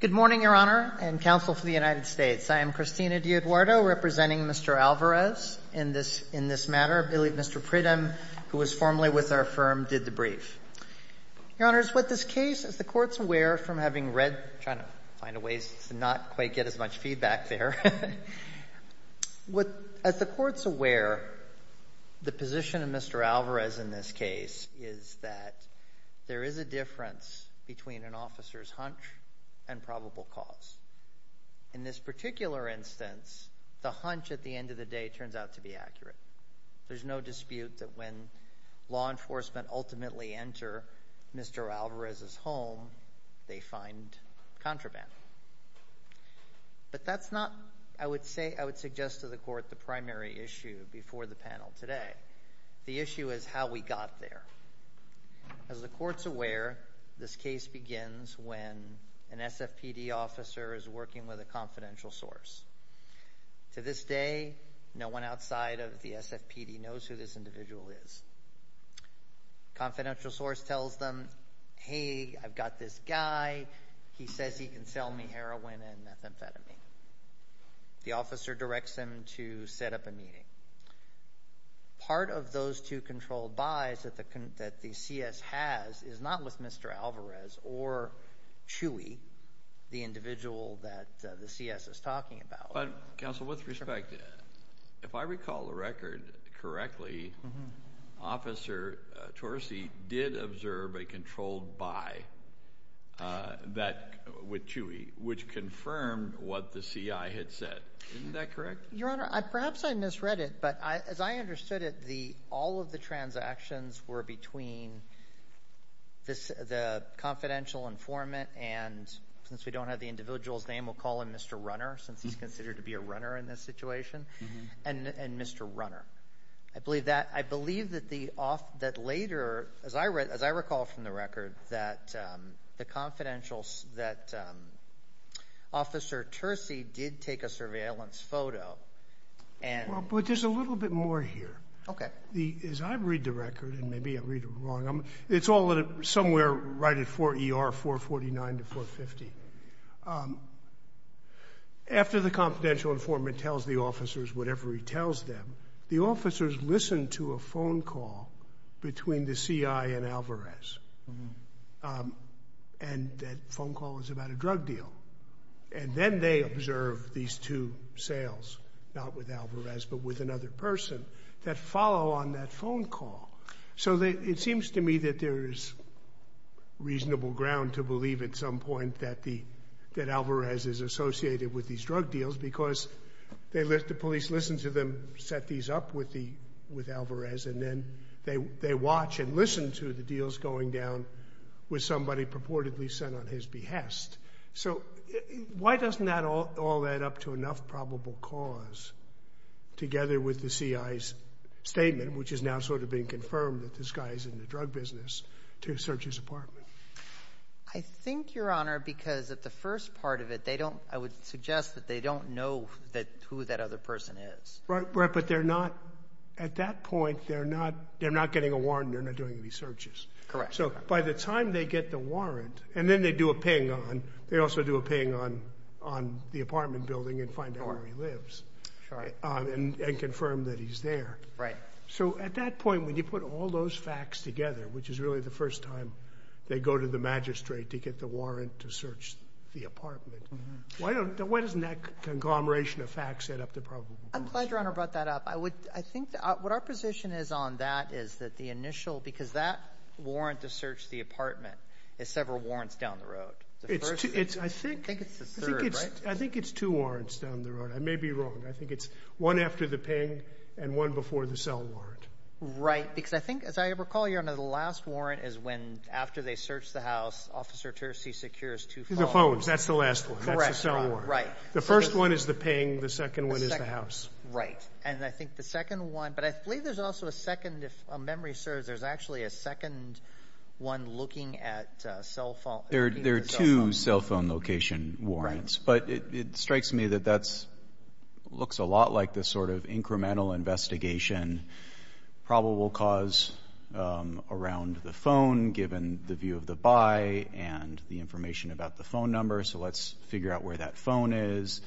Good morning, Your Honor, and counsel for the United States. I am Christina D'Eoduardo representing Mr. Alvarez in this matter. I believe Mr. Pridham, who was formerly with our firm, did the brief. Your Honors, what this case, as the Court's aware from having read, trying to find a way to not quite get as much feedback there, as the Court's aware, the position of Mr. Alvarez in this case is that there is a difference between an officer's hunch and probable cause. In this particular instance, the hunch at the end of the day turns out to be accurate. There's no dispute that when law enforcement ultimately enter Mr. Alvarez's home, they find contraband. But that's not, I would say, I would suggest to the Court the primary issue before the panel today. The issue is how we got there. As the Court's aware, this case begins when an SFPD officer is working with a confidential source. To this day, no one outside of the SFPD knows who this individual is. The confidential source tells them, hey, I've got this guy, he says he can sell me heroin and methamphetamine. The officer directs them to set up a meeting. Part of those two controlled buys that the CS has is not with Mr. Alvarez or Chewy, the individual that the CS is talking about. But, Counsel, with respect, if I recall the record correctly, Officer Torci did observe a controlled buy with Chewy, which confirmed what the CI had said. Isn't that correct? Your Honor, perhaps I misread it, but as I understood it, all of the transactions were between the confidential informant and, since we don't have the individual's name, we'll call him Mr. Runner, since he's considered to be a runner in this situation, and Mr. Runner said later, as I recall from the record, that Officer Torci did take a surveillance photo. Well, but there's a little bit more here. As I read the record, and maybe I read it wrong, it's all somewhere right at 4 ER 449 to 450. After the confidential informant tells the officers whatever he tells them, the officers listen to a phone call between the CI and Alvarez, and that phone call is about a drug deal. And then they observe these two sales, not with Alvarez but with another person, that follow on that phone call. So it seems to me that there is reasonable ground to believe at some point that Alvarez is associated with these drug deals because the police listen to them set these up with Alvarez, and then they watch and listen to the deals going down with somebody purportedly sent on his behest. So why doesn't that all add up to enough probable cause, together with the CI's statement, which has now sort of been confirmed that this guy is in the drug business, to search his apartment? I think, Your Honor, because at the first part of it, they don't – I would suggest that they don't know who that other person is. Right. But they're not – at that point, they're not getting a warrant and they're not doing any searches. Correct. So by the time they get the warrant – and then they do a ping on – they also do a ping on the apartment building and find out where he lives and confirm that he's there. Right. So at that point, when you put all those facts together, which is really the first time they go to the magistrate to get the warrant to search the apartment, why don't – why doesn't that conglomeration of facts add up to probable cause? I'm glad Your Honor brought that up. I would – I think what our position is on that is that the initial – because that warrant to search the apartment is several warrants down the road. It's two – I think – I think it's the third, right? I think it's two warrants down the road. I may be wrong. I think it's one after the ping and one before the cell warrant. Right. Because I think, as I recall, Your Honor, the last warrant is when – after they search the house, Officer Terzi secures two phones. The phones. That's the last one. Correct, Your Honor. That's the cell warrant. Right. The first one is the ping. The second one is the house. The second – right. And I think the second one – but I believe there's also a second – if memory serves, there's actually a second one looking at cell phone – There are two cell phone location warrants. Right. But it strikes me that that's – looks a lot like this sort of incremental investigation and probable cause around the phone, given the view of the buy and the information about the phone number. So let's figure out where that phone is.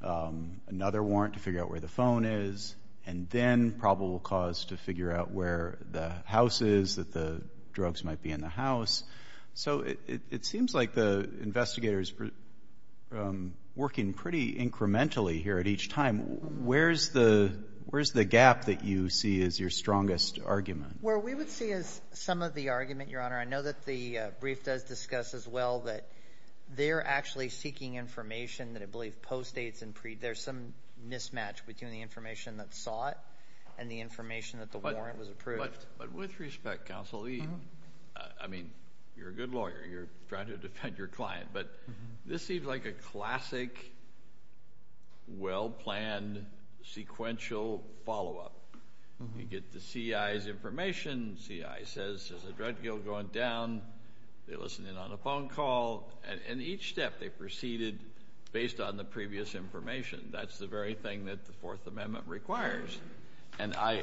Another warrant to figure out where the phone is. And then probable cause to figure out where the house is, that the drugs might be in the house. So it seems like the investigator is working pretty incrementally here at each time. Where's the gap that you see as your strongest argument? Where we would see as some of the argument, Your Honor, I know that the brief does discuss as well that they're actually seeking information that I believe post-ates and pre- – there's some mismatch between the information that's sought and the information that the warrant was approved. But with respect, Counsel Lee, I mean, you're a good lawyer. You're trying to defend your classic, well-planned, sequential follow-up. You get the C.I.'s information. The C.I. says there's a drug deal going down. They listen in on a phone call. And each step they've proceeded based on the previous information. That's the very thing that the Fourth Amendment requires. And I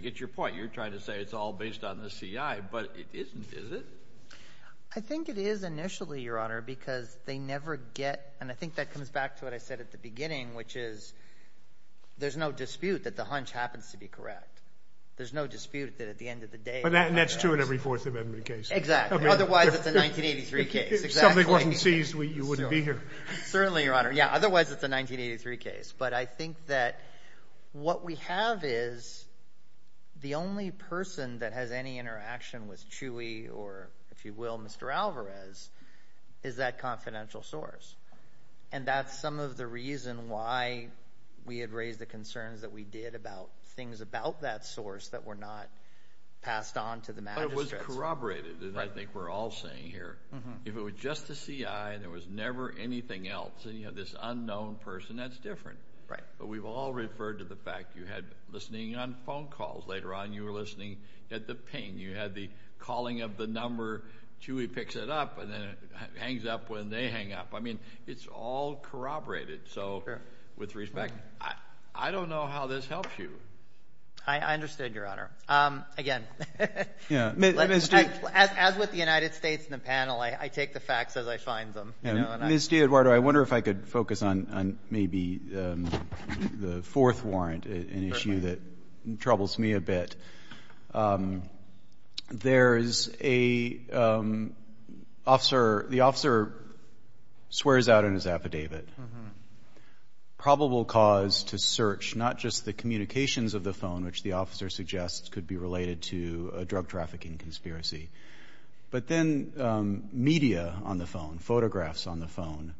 get your point. You're trying to say it's all based on the C.I., but it isn't, is it? I think it is initially, Your Honor, because they never get – and I think that comes back to what I said at the beginning, which is there's no dispute that the hunch happens to be correct. There's no dispute that at the end of the day – And that's true in every Fourth Amendment case. Exactly. Otherwise, it's a 1983 case. If something wasn't seized, you wouldn't be here. Certainly, Your Honor. Yeah. Otherwise, it's a 1983 case. But I think that what we have is the only person that has any interaction with Chewy or, if you will, Mr. Alvarez, is that confidential source. And that's some of the reason why we had raised the concerns that we did about things about that source that were not passed on to the magistrates. But it was corroborated, as I think we're all saying here. If it was just the C.I. and there was never anything else, and you have this unknown person, that's different. Right. But we've all referred to the fact you had listening on phone calls. Later on, you were listening at the ping. You had the calling of the number, Chewy picks it up, and then it hangs up when they hang up. I mean, it's all corroborated. Sure. So, with respect, I don't know how this helps you. I understand, Your Honor. Again, as with the United States and the panel, I take the facts as I find them. Ms. D'Edoardo, I wonder if I could focus on maybe the fourth warrant, an issue that troubles me a bit. There is a officer, the officer swears out in his affidavit. Probable cause to search, not just the communications of the phone, which the officer suggests could be related to a drug trafficking conspiracy, but then media on the phone, photographs on the phone,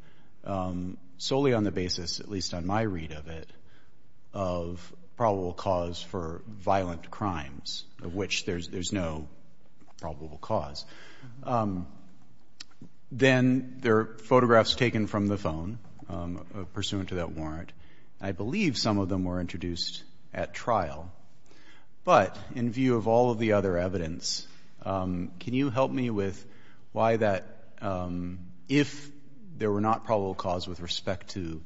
solely on the basis, at least on my read of it, of probable cause for violent crimes, of which there's no probable cause. Then there are photographs taken from the phone pursuant to that warrant. I believe some of them were introduced at trial. But in view of all of the other evidence, can you help me with why that, if there were not probable cause with respect to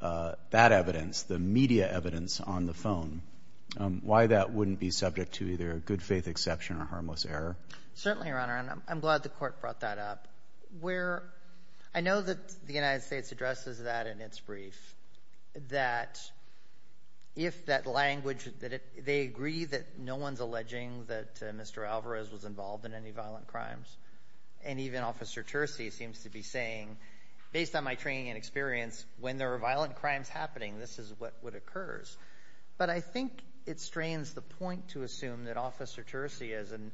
that evidence, the media evidence on the phone, why that wouldn't be subject to either a good-faith exception or harmless error? Certainly, Your Honor. And I'm glad the Court brought that up. Where I know that the United States has a language that they agree that no one's alleging that Mr. Alvarez was involved in any violent crimes. And even Officer Tersi seems to be saying, based on my training and experience, when there are violent crimes happening, this is what occurs. But I think it strains the point to assume that Officer Tersi, as an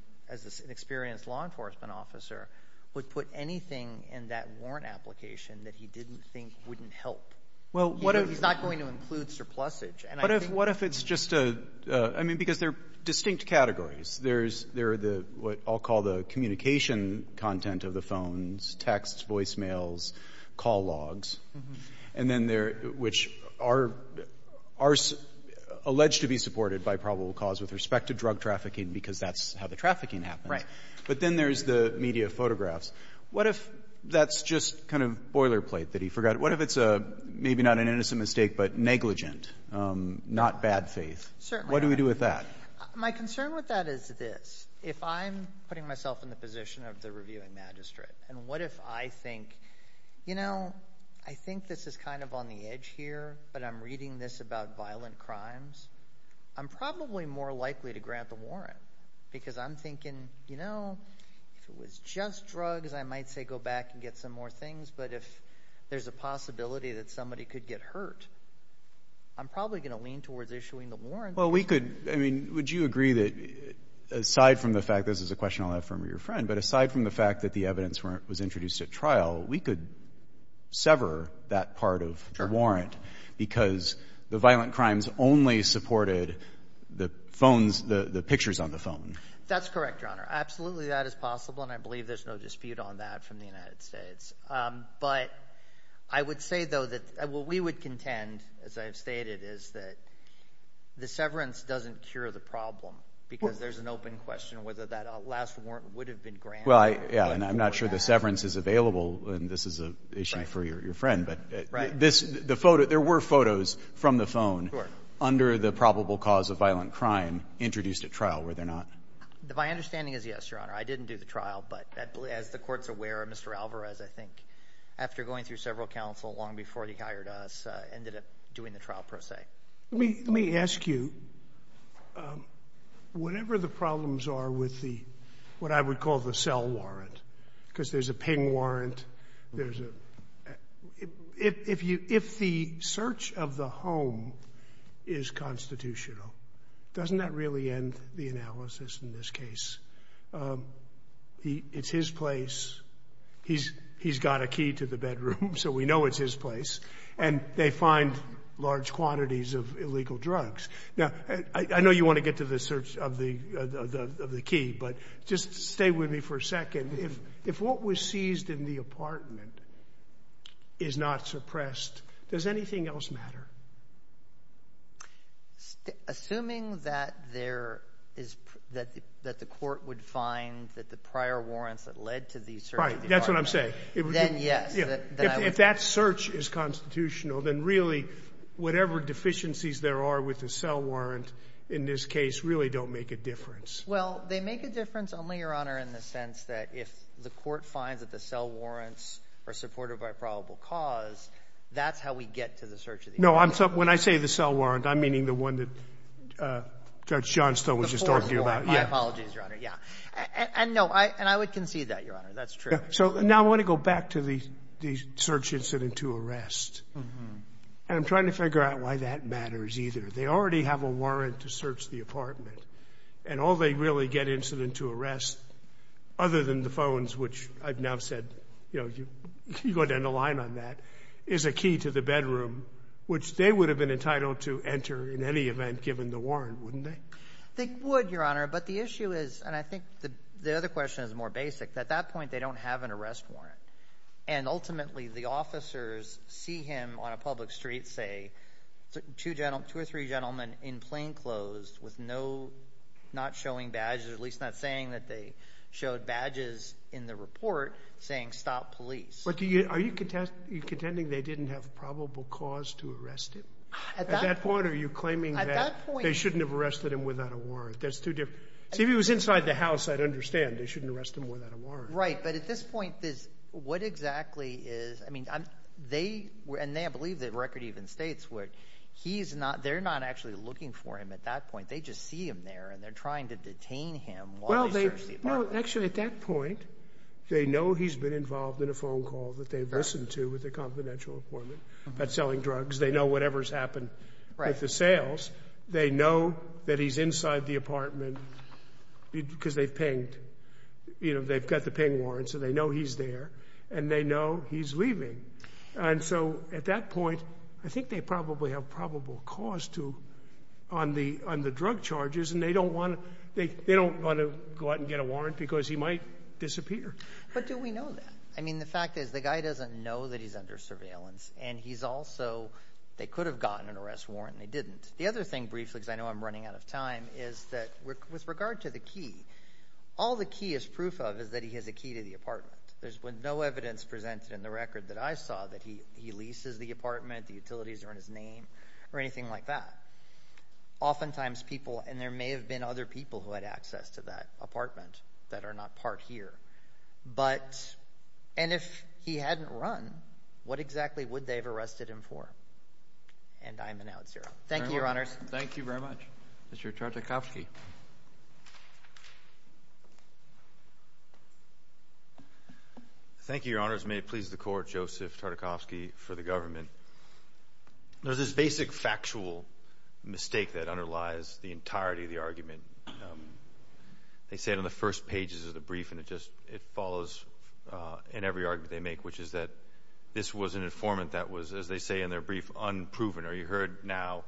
experienced law enforcement officer, would put anything in that warrant application that he didn't think wouldn't help. He's not going to include surplusage. And I think that's the point. But just a — I mean, because there are distinct categories. There's — there are the — what I'll call the communication content of the phones, texts, voicemails, call logs. And then there — which are — are alleged to be supported by probable cause with respect to drug trafficking, because that's how the trafficking happens. Right. But then there's the media photographs. What if that's just kind of boilerplate that he forgot? What if it's a — maybe not an innocent mistake, but negligent, not bad faith? Certainly. What do we do with that? My concern with that is this. If I'm putting myself in the position of the reviewing magistrate, and what if I think, you know, I think this is kind of on the edge here, but I'm reading this about violent crimes, I'm probably more likely to grant the warrant. Because I'm thinking, you know, if it was just drugs, I might say go back and get some more things. But if there's a possibility that somebody could get hurt, I'm probably going to lean towards issuing the warrant. Well, we could — I mean, would you agree that, aside from the fact — this is a question I'll have from your friend — but aside from the fact that the evidence was introduced at trial, we could sever that part of the warrant because the violent crimes only supported the phones — the pictures on the phone? That's correct, Your Honor. Absolutely that is possible, and I believe there's no dispute on that from the United States. But I would say, though, that what we would contend, as I have stated, is that the severance doesn't cure the problem because there's an open question whether that last warrant would have been granted. Well, I — yeah, and I'm not sure the severance is available, and this is an issue for your friend. Right. But this — the photo — there were photos from the phone under the probable cause of violent crime introduced at trial, were there not? My understanding is yes, Your Honor. I didn't do the trial, but as the Court's aware, Mr. Alvarez, I think, after going through several counsel long before he hired us, ended up doing the trial, per se. Let me ask you, whatever the problems are with the — what I would call the cell warrant, because there's a ping warrant, there's a — if you — if the search of the home is constitutional, doesn't that really end the analysis in this case? It's his place. He's got a key to the bedroom, so we know it's his place. And they find large quantities of illegal drugs. Now, I know you want to get to the search of the key, but just stay with me for a second. If what was seized in apartment is not suppressed, does anything else matter? Assuming that there is — that the Court would find that the prior warrants that led to the search of the apartment — Right. That's what I'm saying. — then yes, that I would — If that search is constitutional, then really, whatever deficiencies there are with the cell warrant in this case really don't make a difference. Well, they make a difference only, Your Honor, in the sense that if the Court finds that the cell warrants are supported by probable cause, that's how we get to the search of the apartment. No, I'm — when I say the cell warrant, I'm meaning the one that Judge Johnstone was just talking about. The fourth warrant. My apologies, Your Honor. Yeah. And no, I — and I would concede that, Your Honor. That's true. So now I want to go back to the search incident to arrest. And I'm trying to figure out why that matters either. They already have a warrant to search the apartment, and all they really get incident to arrest, other than the phones, which I've now said, you know, you go down the line on that, is a key to the bedroom, which they would have been entitled to enter in any event given the warrant, wouldn't they? They would, Your Honor. But the issue is — and I think the other question is more basic. At that point, they don't have an arrest warrant. And ultimately, the officers see him on a public street, say, two or three gentlemen in plain clothes with no — not showing badges, or at least not saying that they showed badges in the report, saying, stop police. But do you — are you contending they didn't have probable cause to arrest him? At that point, are you claiming that — At that point —— they shouldn't have arrested him without a warrant? That's too different. See, if he was inside the house, I'd understand. They shouldn't arrest him without a warrant. Right. But at this point, this — what exactly is — I mean, they — and they, I believe, the record even states where he's not — they're not actually looking for him at that point. They just see him there, and they're trying to detain him while they search the apartment. Actually, at that point, they know he's been involved in a phone call that they've listened to with a confidential appointment about selling drugs. They know whatever's happened with the sales. They know that he's inside the apartment because they've pinged. You know, they've got the ping warrant, so they know he's there, and they know he's leaving. And so, at that point, I think they probably have probable cause to — on the — on the drug charges, and they don't want to — they don't want to go out and get a warrant because he might disappear. But do we know that? I mean, the fact is, the guy doesn't know that he's under surveillance, and he's also — they could have gotten an arrest warrant, and they didn't. The other thing, briefly, because I know I'm running out of time, is that with regard to the key, all the key is proof of is that he has a key to the apartment. There's no evidence presented in the record that I saw that he leases the apartment, the utilities are in his name, or anything like that. Oftentimes, people — and there may have been other people who had access to that apartment that are not part here. But — and if he hadn't run, what exactly would they have arrested him for? And I'm an out-zero. Thank you, Your Honors. Thank you very much. Mr. Tartakovsky. Thank you, Your Honors. May it please the Court, Joseph Tartakovsky for the entirety of the argument. They say it on the first pages of the brief, and it just — it follows in every argument they make, which is that this was an informant that was, as they say in their brief, unproven, or you heard now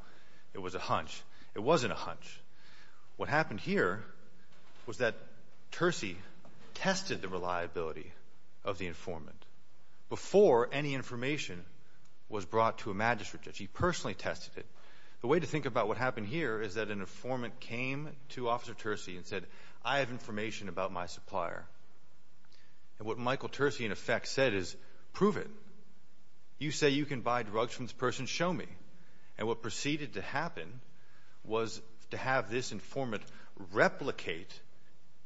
it was a hunch. It wasn't a hunch. What happened here was that Tersi tested the reliability of the informant before any information was brought to a magistrate judge. He personally tested it. The way to think about what happened here is that an informant came to Officer Tersi and said, I have information about my supplier. And what Michael Tersi, in effect, said is, prove it. You say you can buy drugs from this person, show me. And what proceeded to happen was to have this informant replicate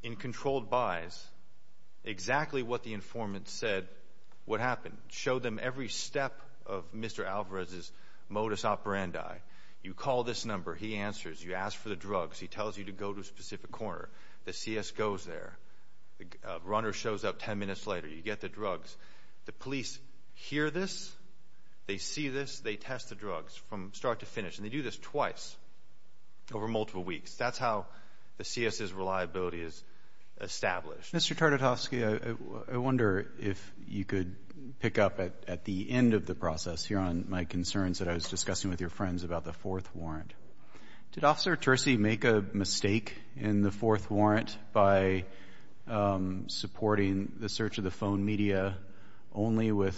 in controlled buys exactly what the informant said would happen. Show them every step of Mr. Alvarez's modus operandi. You call this for the drugs. He tells you to go to a specific corner. The C.S. goes there. Runner shows up 10 minutes later. You get the drugs. The police hear this. They see this. They test the drugs from start to finish. And they do this twice over multiple weeks. That's how the C.S.'s reliability is established. Mr. Tartakovsky, I wonder if you could pick up at the end of the process here on my concerns that I was discussing with your friends about the fourth warrant. Did Officer Tersi make a mistake in the fourth warrant by supporting the search of the phone media only with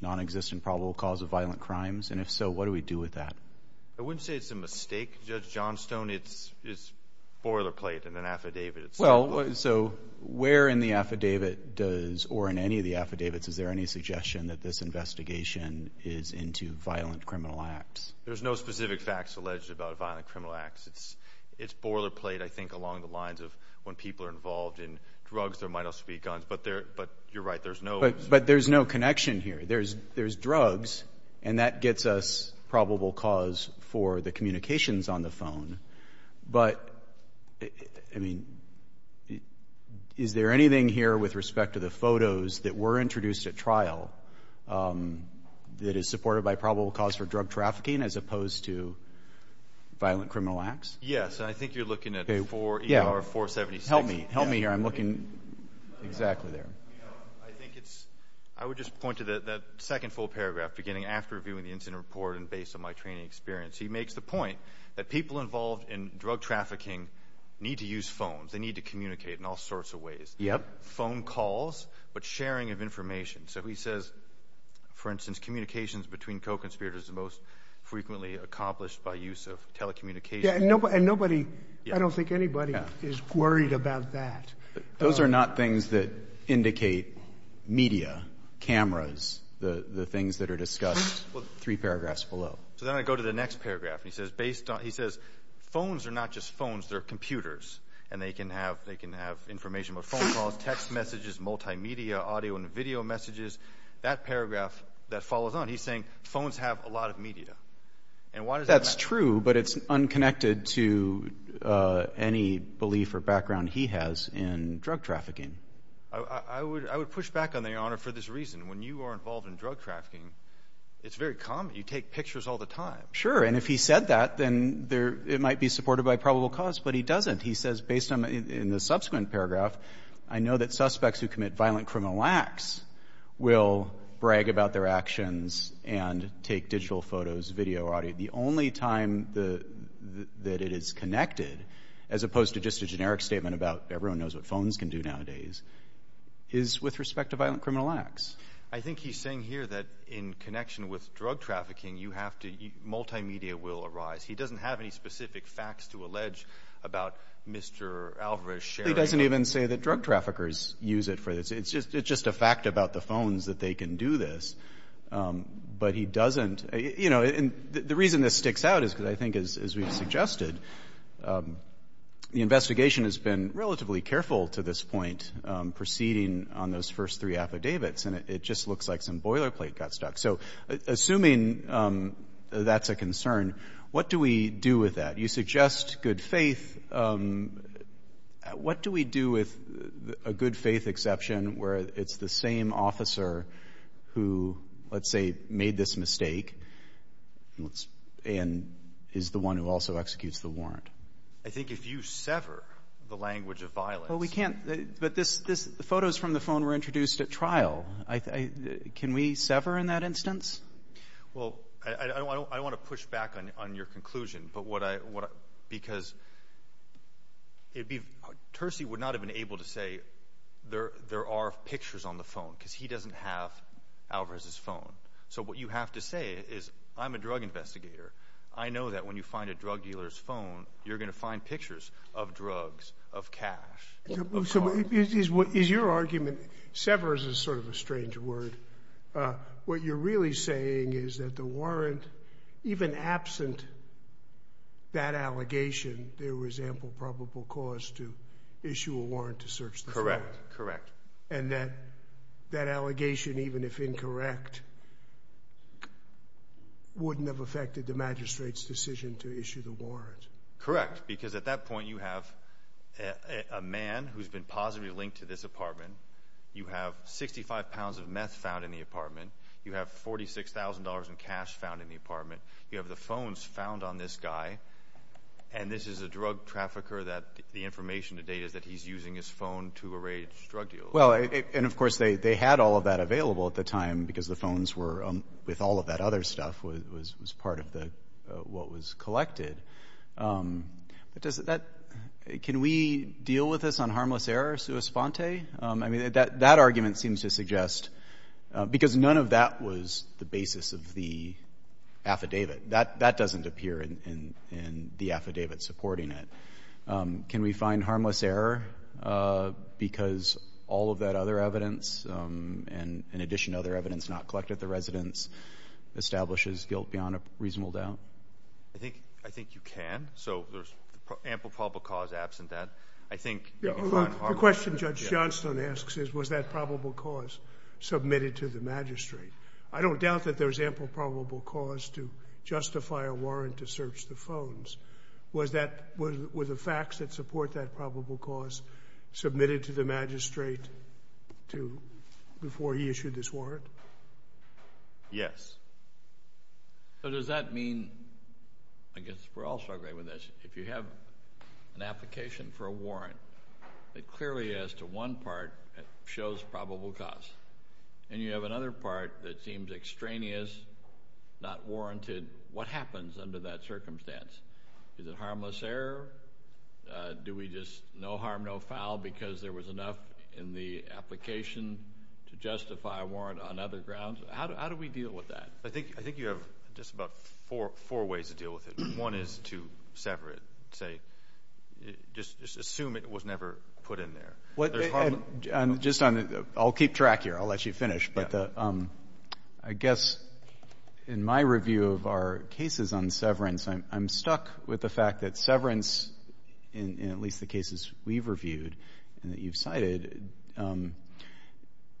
non-existent probable cause of violent crimes? And if so, what do we do with that? I wouldn't say it's a mistake, Judge Johnstone. It's boilerplate in an affidavit. Well, so where in the affidavit does, or in any of the affidavits, is there any suggestion that this investigation is into violent criminal acts? There's no specific facts alleged about violent criminal acts. It's boilerplate, I think, along the lines of when people are involved in drugs, there might also be guns. But you're right. There's no... But there's no connection here. There's drugs, and that gets us probable cause for the communications on the phone. But, I mean, is there anything here with respect to the photos that were introduced at trial that is supported by the affidavit as opposed to violent criminal acts? Yes, and I think you're looking at 4 ER 476. Help me. Help me here. I'm looking exactly there. I think it's... I would just point to that second full paragraph, beginning after reviewing the incident report and based on my training experience. He makes the point that people involved in drug trafficking need to use phones. They need to communicate in all sorts of ways. Yep. Phone calls, but sharing of information. So he says, for instance, communications between co-conspirators is the most frequently accomplished by use of telecommunications. Yeah, and nobody... I don't think anybody is worried about that. Those are not things that indicate media, cameras, the things that are discussed, three paragraphs below. So then I go to the next paragraph, and he says, based on... He says, phones are not just phones. They're computers, and they can have information about phone calls, text messages, multimedia, audio and video messages. That paragraph that follows on, he's saying, phones have a lot of media. And why does that... That's true, but it's unconnected to any belief or background he has in drug trafficking. I would push back on that, Your Honor, for this reason. When you are involved in drug trafficking, it's very common. You take pictures all the time. Sure, and if he said that, then it might be supported by probable cause, but he doesn't. He says, based on the subsequent paragraph, I know that people brag about their actions and take digital photos, video, audio. The only time that it is connected, as opposed to just a generic statement about everyone knows what phones can do nowadays, is with respect to violent criminal acts. I think he's saying here that in connection with drug trafficking, you have to... Multimedia will arise. He doesn't have any specific facts to allege about Mr. Alvarez sharing... He doesn't even say that drug traffickers use it for... It's just a fact about the phones that they can do this. But he doesn't... You know, and the reason this sticks out is because I think, as we've suggested, the investigation has been relatively careful to this point, proceeding on those first three affidavits, and it just looks like some boilerplate got stuck. So assuming that's a concern, what do we do with that? You suggest good faith. What do we do with a good faith exception where it's the same officer who, let's say, made this mistake and is the one who also executes the warrant? I think if you sever the language of violence... Well, we can't... But this... The photos from the phone were introduced at trial. Can we sever in that instance? Well, I don't want to push back on your conclusion, but what I... Because Tersi would not have been able to say, there are pictures on the phone, because he doesn't have Alvarez's phone. So what you have to say is, I'm a drug investigator. I know that when you find a drug dealer's phone, you're going to find pictures of drugs, of cash, of cars. Is your argument... Sever is sort of a strange word. What you're really saying is that the warrant, even absent that allegation, there was ample probable cause to issue a warrant to search the phone. Correct. Correct. And that that allegation, even if incorrect, wouldn't have affected the magistrate's decision to issue the warrant. Correct. Because at that point, you have a man who's been positively linked to this apartment. You have 65 pounds of meth found in the apartment. You have $46,000 in cash found in the apartment. You have the phones found on this guy. And this is a drug trafficker that the information to date is that he's using his phone to arrange drug deals. Well, and of course, they had all of that available at the time, because the phones were... With all of that other stuff was part of what was collected. But does that... Can we deal with this on harmless error, sua sponte? I mean, that argument seems to suggest... Because none of that was the basis of the affidavit. That doesn't appear in the affidavit supporting it. Can we find harmless error because all of that other evidence, and in addition, other evidence not collected at the residence, establishes guilt beyond a reasonable doubt? I think you can. So there's ample probable cause absent that. I think... The question Judge Johnstone asks is, was that probable cause submitted to the magistrate? I don't doubt that there's ample probable cause to justify a warrant to search the phones. Was that... Were the facts that support that probable cause submitted to the magistrate before he issued this warrant? Yes. So does that mean... I guess we're all struggling with this. If you have an application for a warrant that clearly, as to one part, shows probable cause, and you have another part that seems extraneous, not warranted, what happens under that circumstance? Is it harmless error? Do we just... No harm, no foul, because there was enough in the application to justify a warrant on other grounds. How do we deal with that? I think you have just about four ways to deal with it. One is to sever it, say, just assume it was never put in there. Just on... I'll keep track here. I'll let you finish. But I guess in my review of our cases on severance, I'm stuck with the fact that severance, in at least the cases we've reviewed and that you've cited,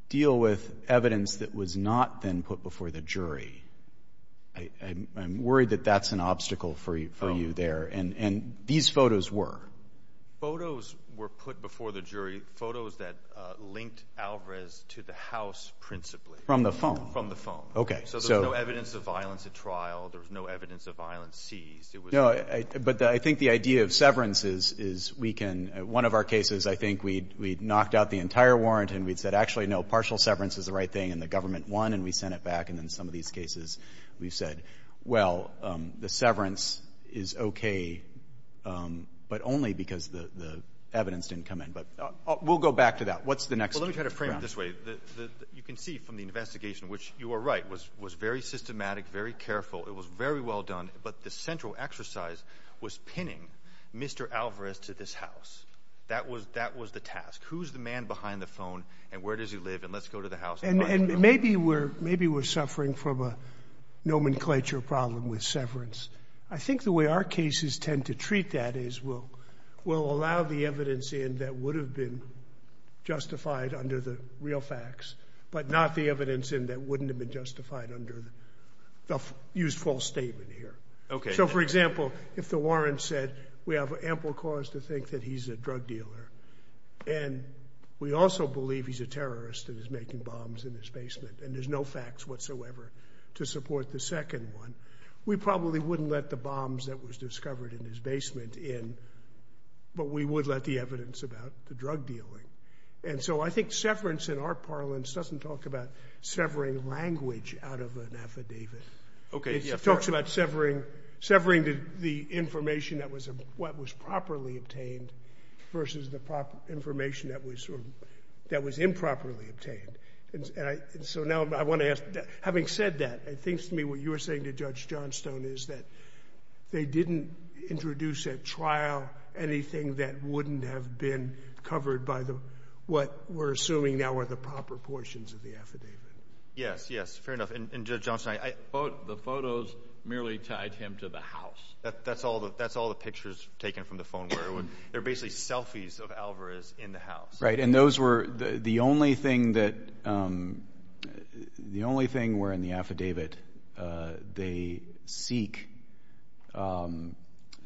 deal with evidence that was not then put before the jury. I'm worried that that's an obstacle for you there. And these photos were? Photos were put before the jury, photos that linked Alvarez to the house principally. From the phone? From the phone. Okay. So... So there's no evidence of violence at trial. There was no evidence of violence seized. It was... But I think the idea of severance is we can... One of our cases, I think we'd knocked out the entire warrant, and we'd said, actually, no, partial severance is the right thing, and the government won, and we sent it back. And in some of these cases, we've said, well, the severance is okay, but only because the evidence didn't come in. But we'll go back to that. What's the next... Well, let me try to frame it this way. You can see from the investigation, which you are right, was very systematic, very careful. It was very well done. But the central exercise was pinning Mr. Alvarez to this house. That was the task. Who's the man behind the phone, and where does he live, and let's go to the house... And maybe we're suffering from a nomenclature problem with severance. I think the way our cases tend to treat that is we'll allow the evidence in that would have been justified under the real facts, but not the evidence in that wouldn't have been justified under the used false statement here. So for example, if the warrant said we have ample cause to think that he's a drug dealer, and we also believe he's a terrorist and is making bombs in his basement, and there's no facts whatsoever to support the second one, we probably wouldn't let the bombs that was discovered in his basement in, but we would let the evidence about the drug dealing. And so I think severance in our parlance doesn't talk about severing language out of an affidavit. It talks about severing the information that was properly obtained versus the information that was improperly obtained. So now I want to ask, having said that, it seems to me what you were saying to Judge Johnstone is that they didn't introduce at trial anything that wouldn't have been covered by what we're assuming now are the proper portions of the affidavit. Yes, yes. Fair enough. And Judge Johnstone, the photos merely tied him to the house. That's all the pictures taken from the phone. They're basically selfies of Alvarez in the house. Right. And those were the only thing that, the only thing where in the affidavit they seek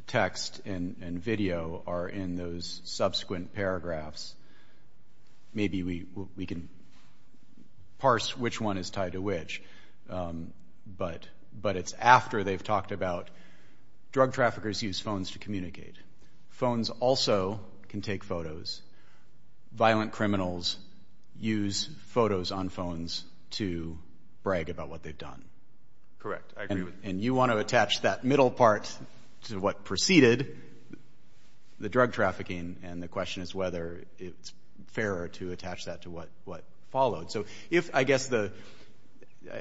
text and video are in those subsequent paragraphs. Maybe we can parse which one is tied to which, but it's after they've talked about drug traffickers use phones to communicate. Phones also can take photos. Violent criminals use photos on phones to brag about what they've done. Correct. I agree with you. And you want to attach that middle part to what preceded the drug trafficking, and the question is whether it's fairer to attach that to what followed. So if, I guess the,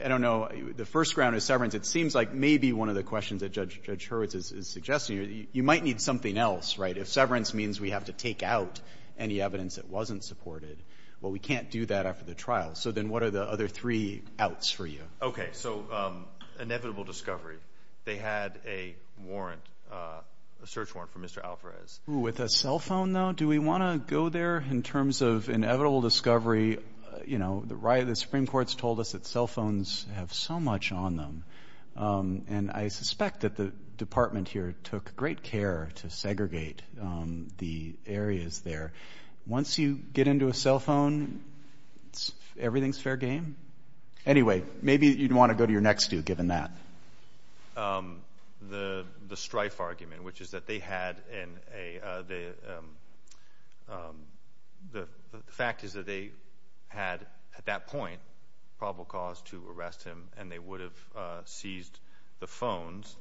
I don't know, the first ground is severance. It seems like maybe one of the questions that Judge Hurwitz is suggesting, you might need something else, right? If severance means we have to take out any evidence that well, we can't do that after the trial. So then what are the other three outs for you? Okay. So inevitable discovery. They had a warrant, a search warrant for Mr. Alvarez. With a cell phone though, do we want to go there in terms of inevitable discovery? You know, the Supreme Court's told us that cell phones have so much on them. And I suspect that the department here took great care to segregate the areas there. Once you get into a cell phone, everything's fair game? Anyway, maybe you'd want to go to your next two given that. The strife argument, which is that they had in a, the fact is that they had at that point probable cause to arrest him, and they would have seized the phones.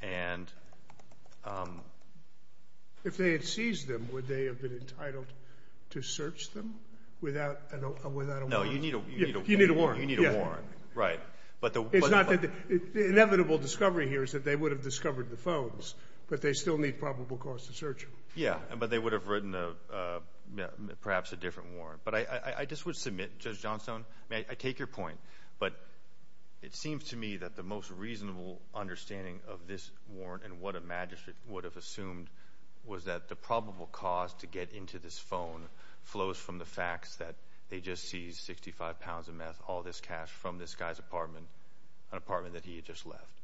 And if they had seized them, would they have been entitled to search them without a warrant? No, you need a warrant. You need a warrant, right. But the inevitable discovery here is that they would have discovered the phones, but they still need probable cause to search them. Yeah, but they would have written perhaps a different warrant. But I just would Judge Johnstone, may I take your point? But it seems to me that the most reasonable understanding of this warrant and what a magistrate would have assumed was that the probable cause to get into this phone flows from the facts that they just seized 65 pounds of meth, all this cash from this guy's apartment, an apartment that he had just left.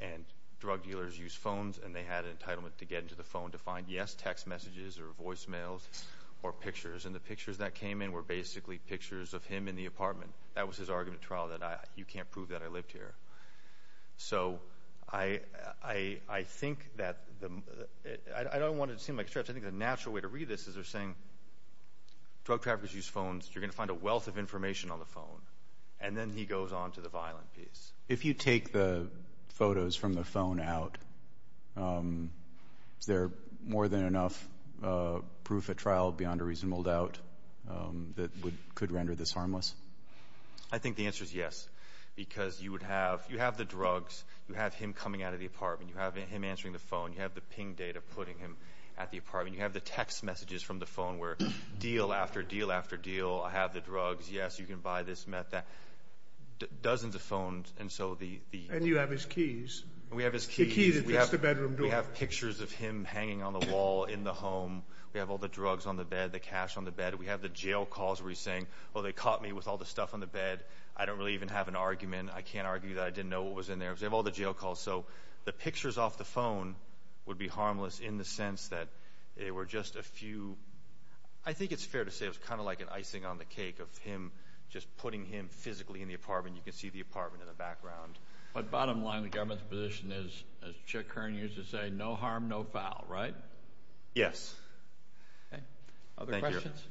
And drug dealers use phones, and they had an entitlement to get into the phone to find, yes, text messages or voicemails or pictures. And the in the apartment, that was his argument at trial that you can't prove that I lived here. So I think that the, I don't want it to seem like a stretch. I think the natural way to read this is they're saying drug traffickers use phones. You're going to find a wealth of information on the phone. And then he goes on to the violent piece. If you take the photos from the phone out, is there more than enough proof at trial beyond a reasonable doubt that could render this harmless? I think the answer is yes. Because you would have, you have the drugs, you have him coming out of the apartment, you have him answering the phone, you have the ping data putting him at the apartment, you have the text messages from the phone where deal after deal after deal, I have the drugs, yes, you can buy this meth, that dozens of phones. And so the... And you have his keys. We have his keys. We have pictures of him hanging on the wall in the home. We have all the drugs on the bed, the cash on the bed. We have the jail calls where he's saying, well, they caught me with all the stuff on the bed. I don't really even have an argument. I can't argue that I didn't know what was in there because they have all the jail calls. So the pictures off the phone would be harmless in the sense that they were just a few... I think it's fair to say it was kind of like an icing on the cake of him just putting him physically in the apartment. You can see the apartment in the background. But bottom line, the government's position is, as Chuck Kern used to say, no harm, no foul, right? Yes. Okay. Other questions?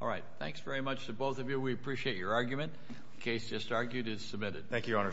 All right. Thanks very much to both of you. We appreciate your argument. The case just argued is submitted. Thank you, Your Honor.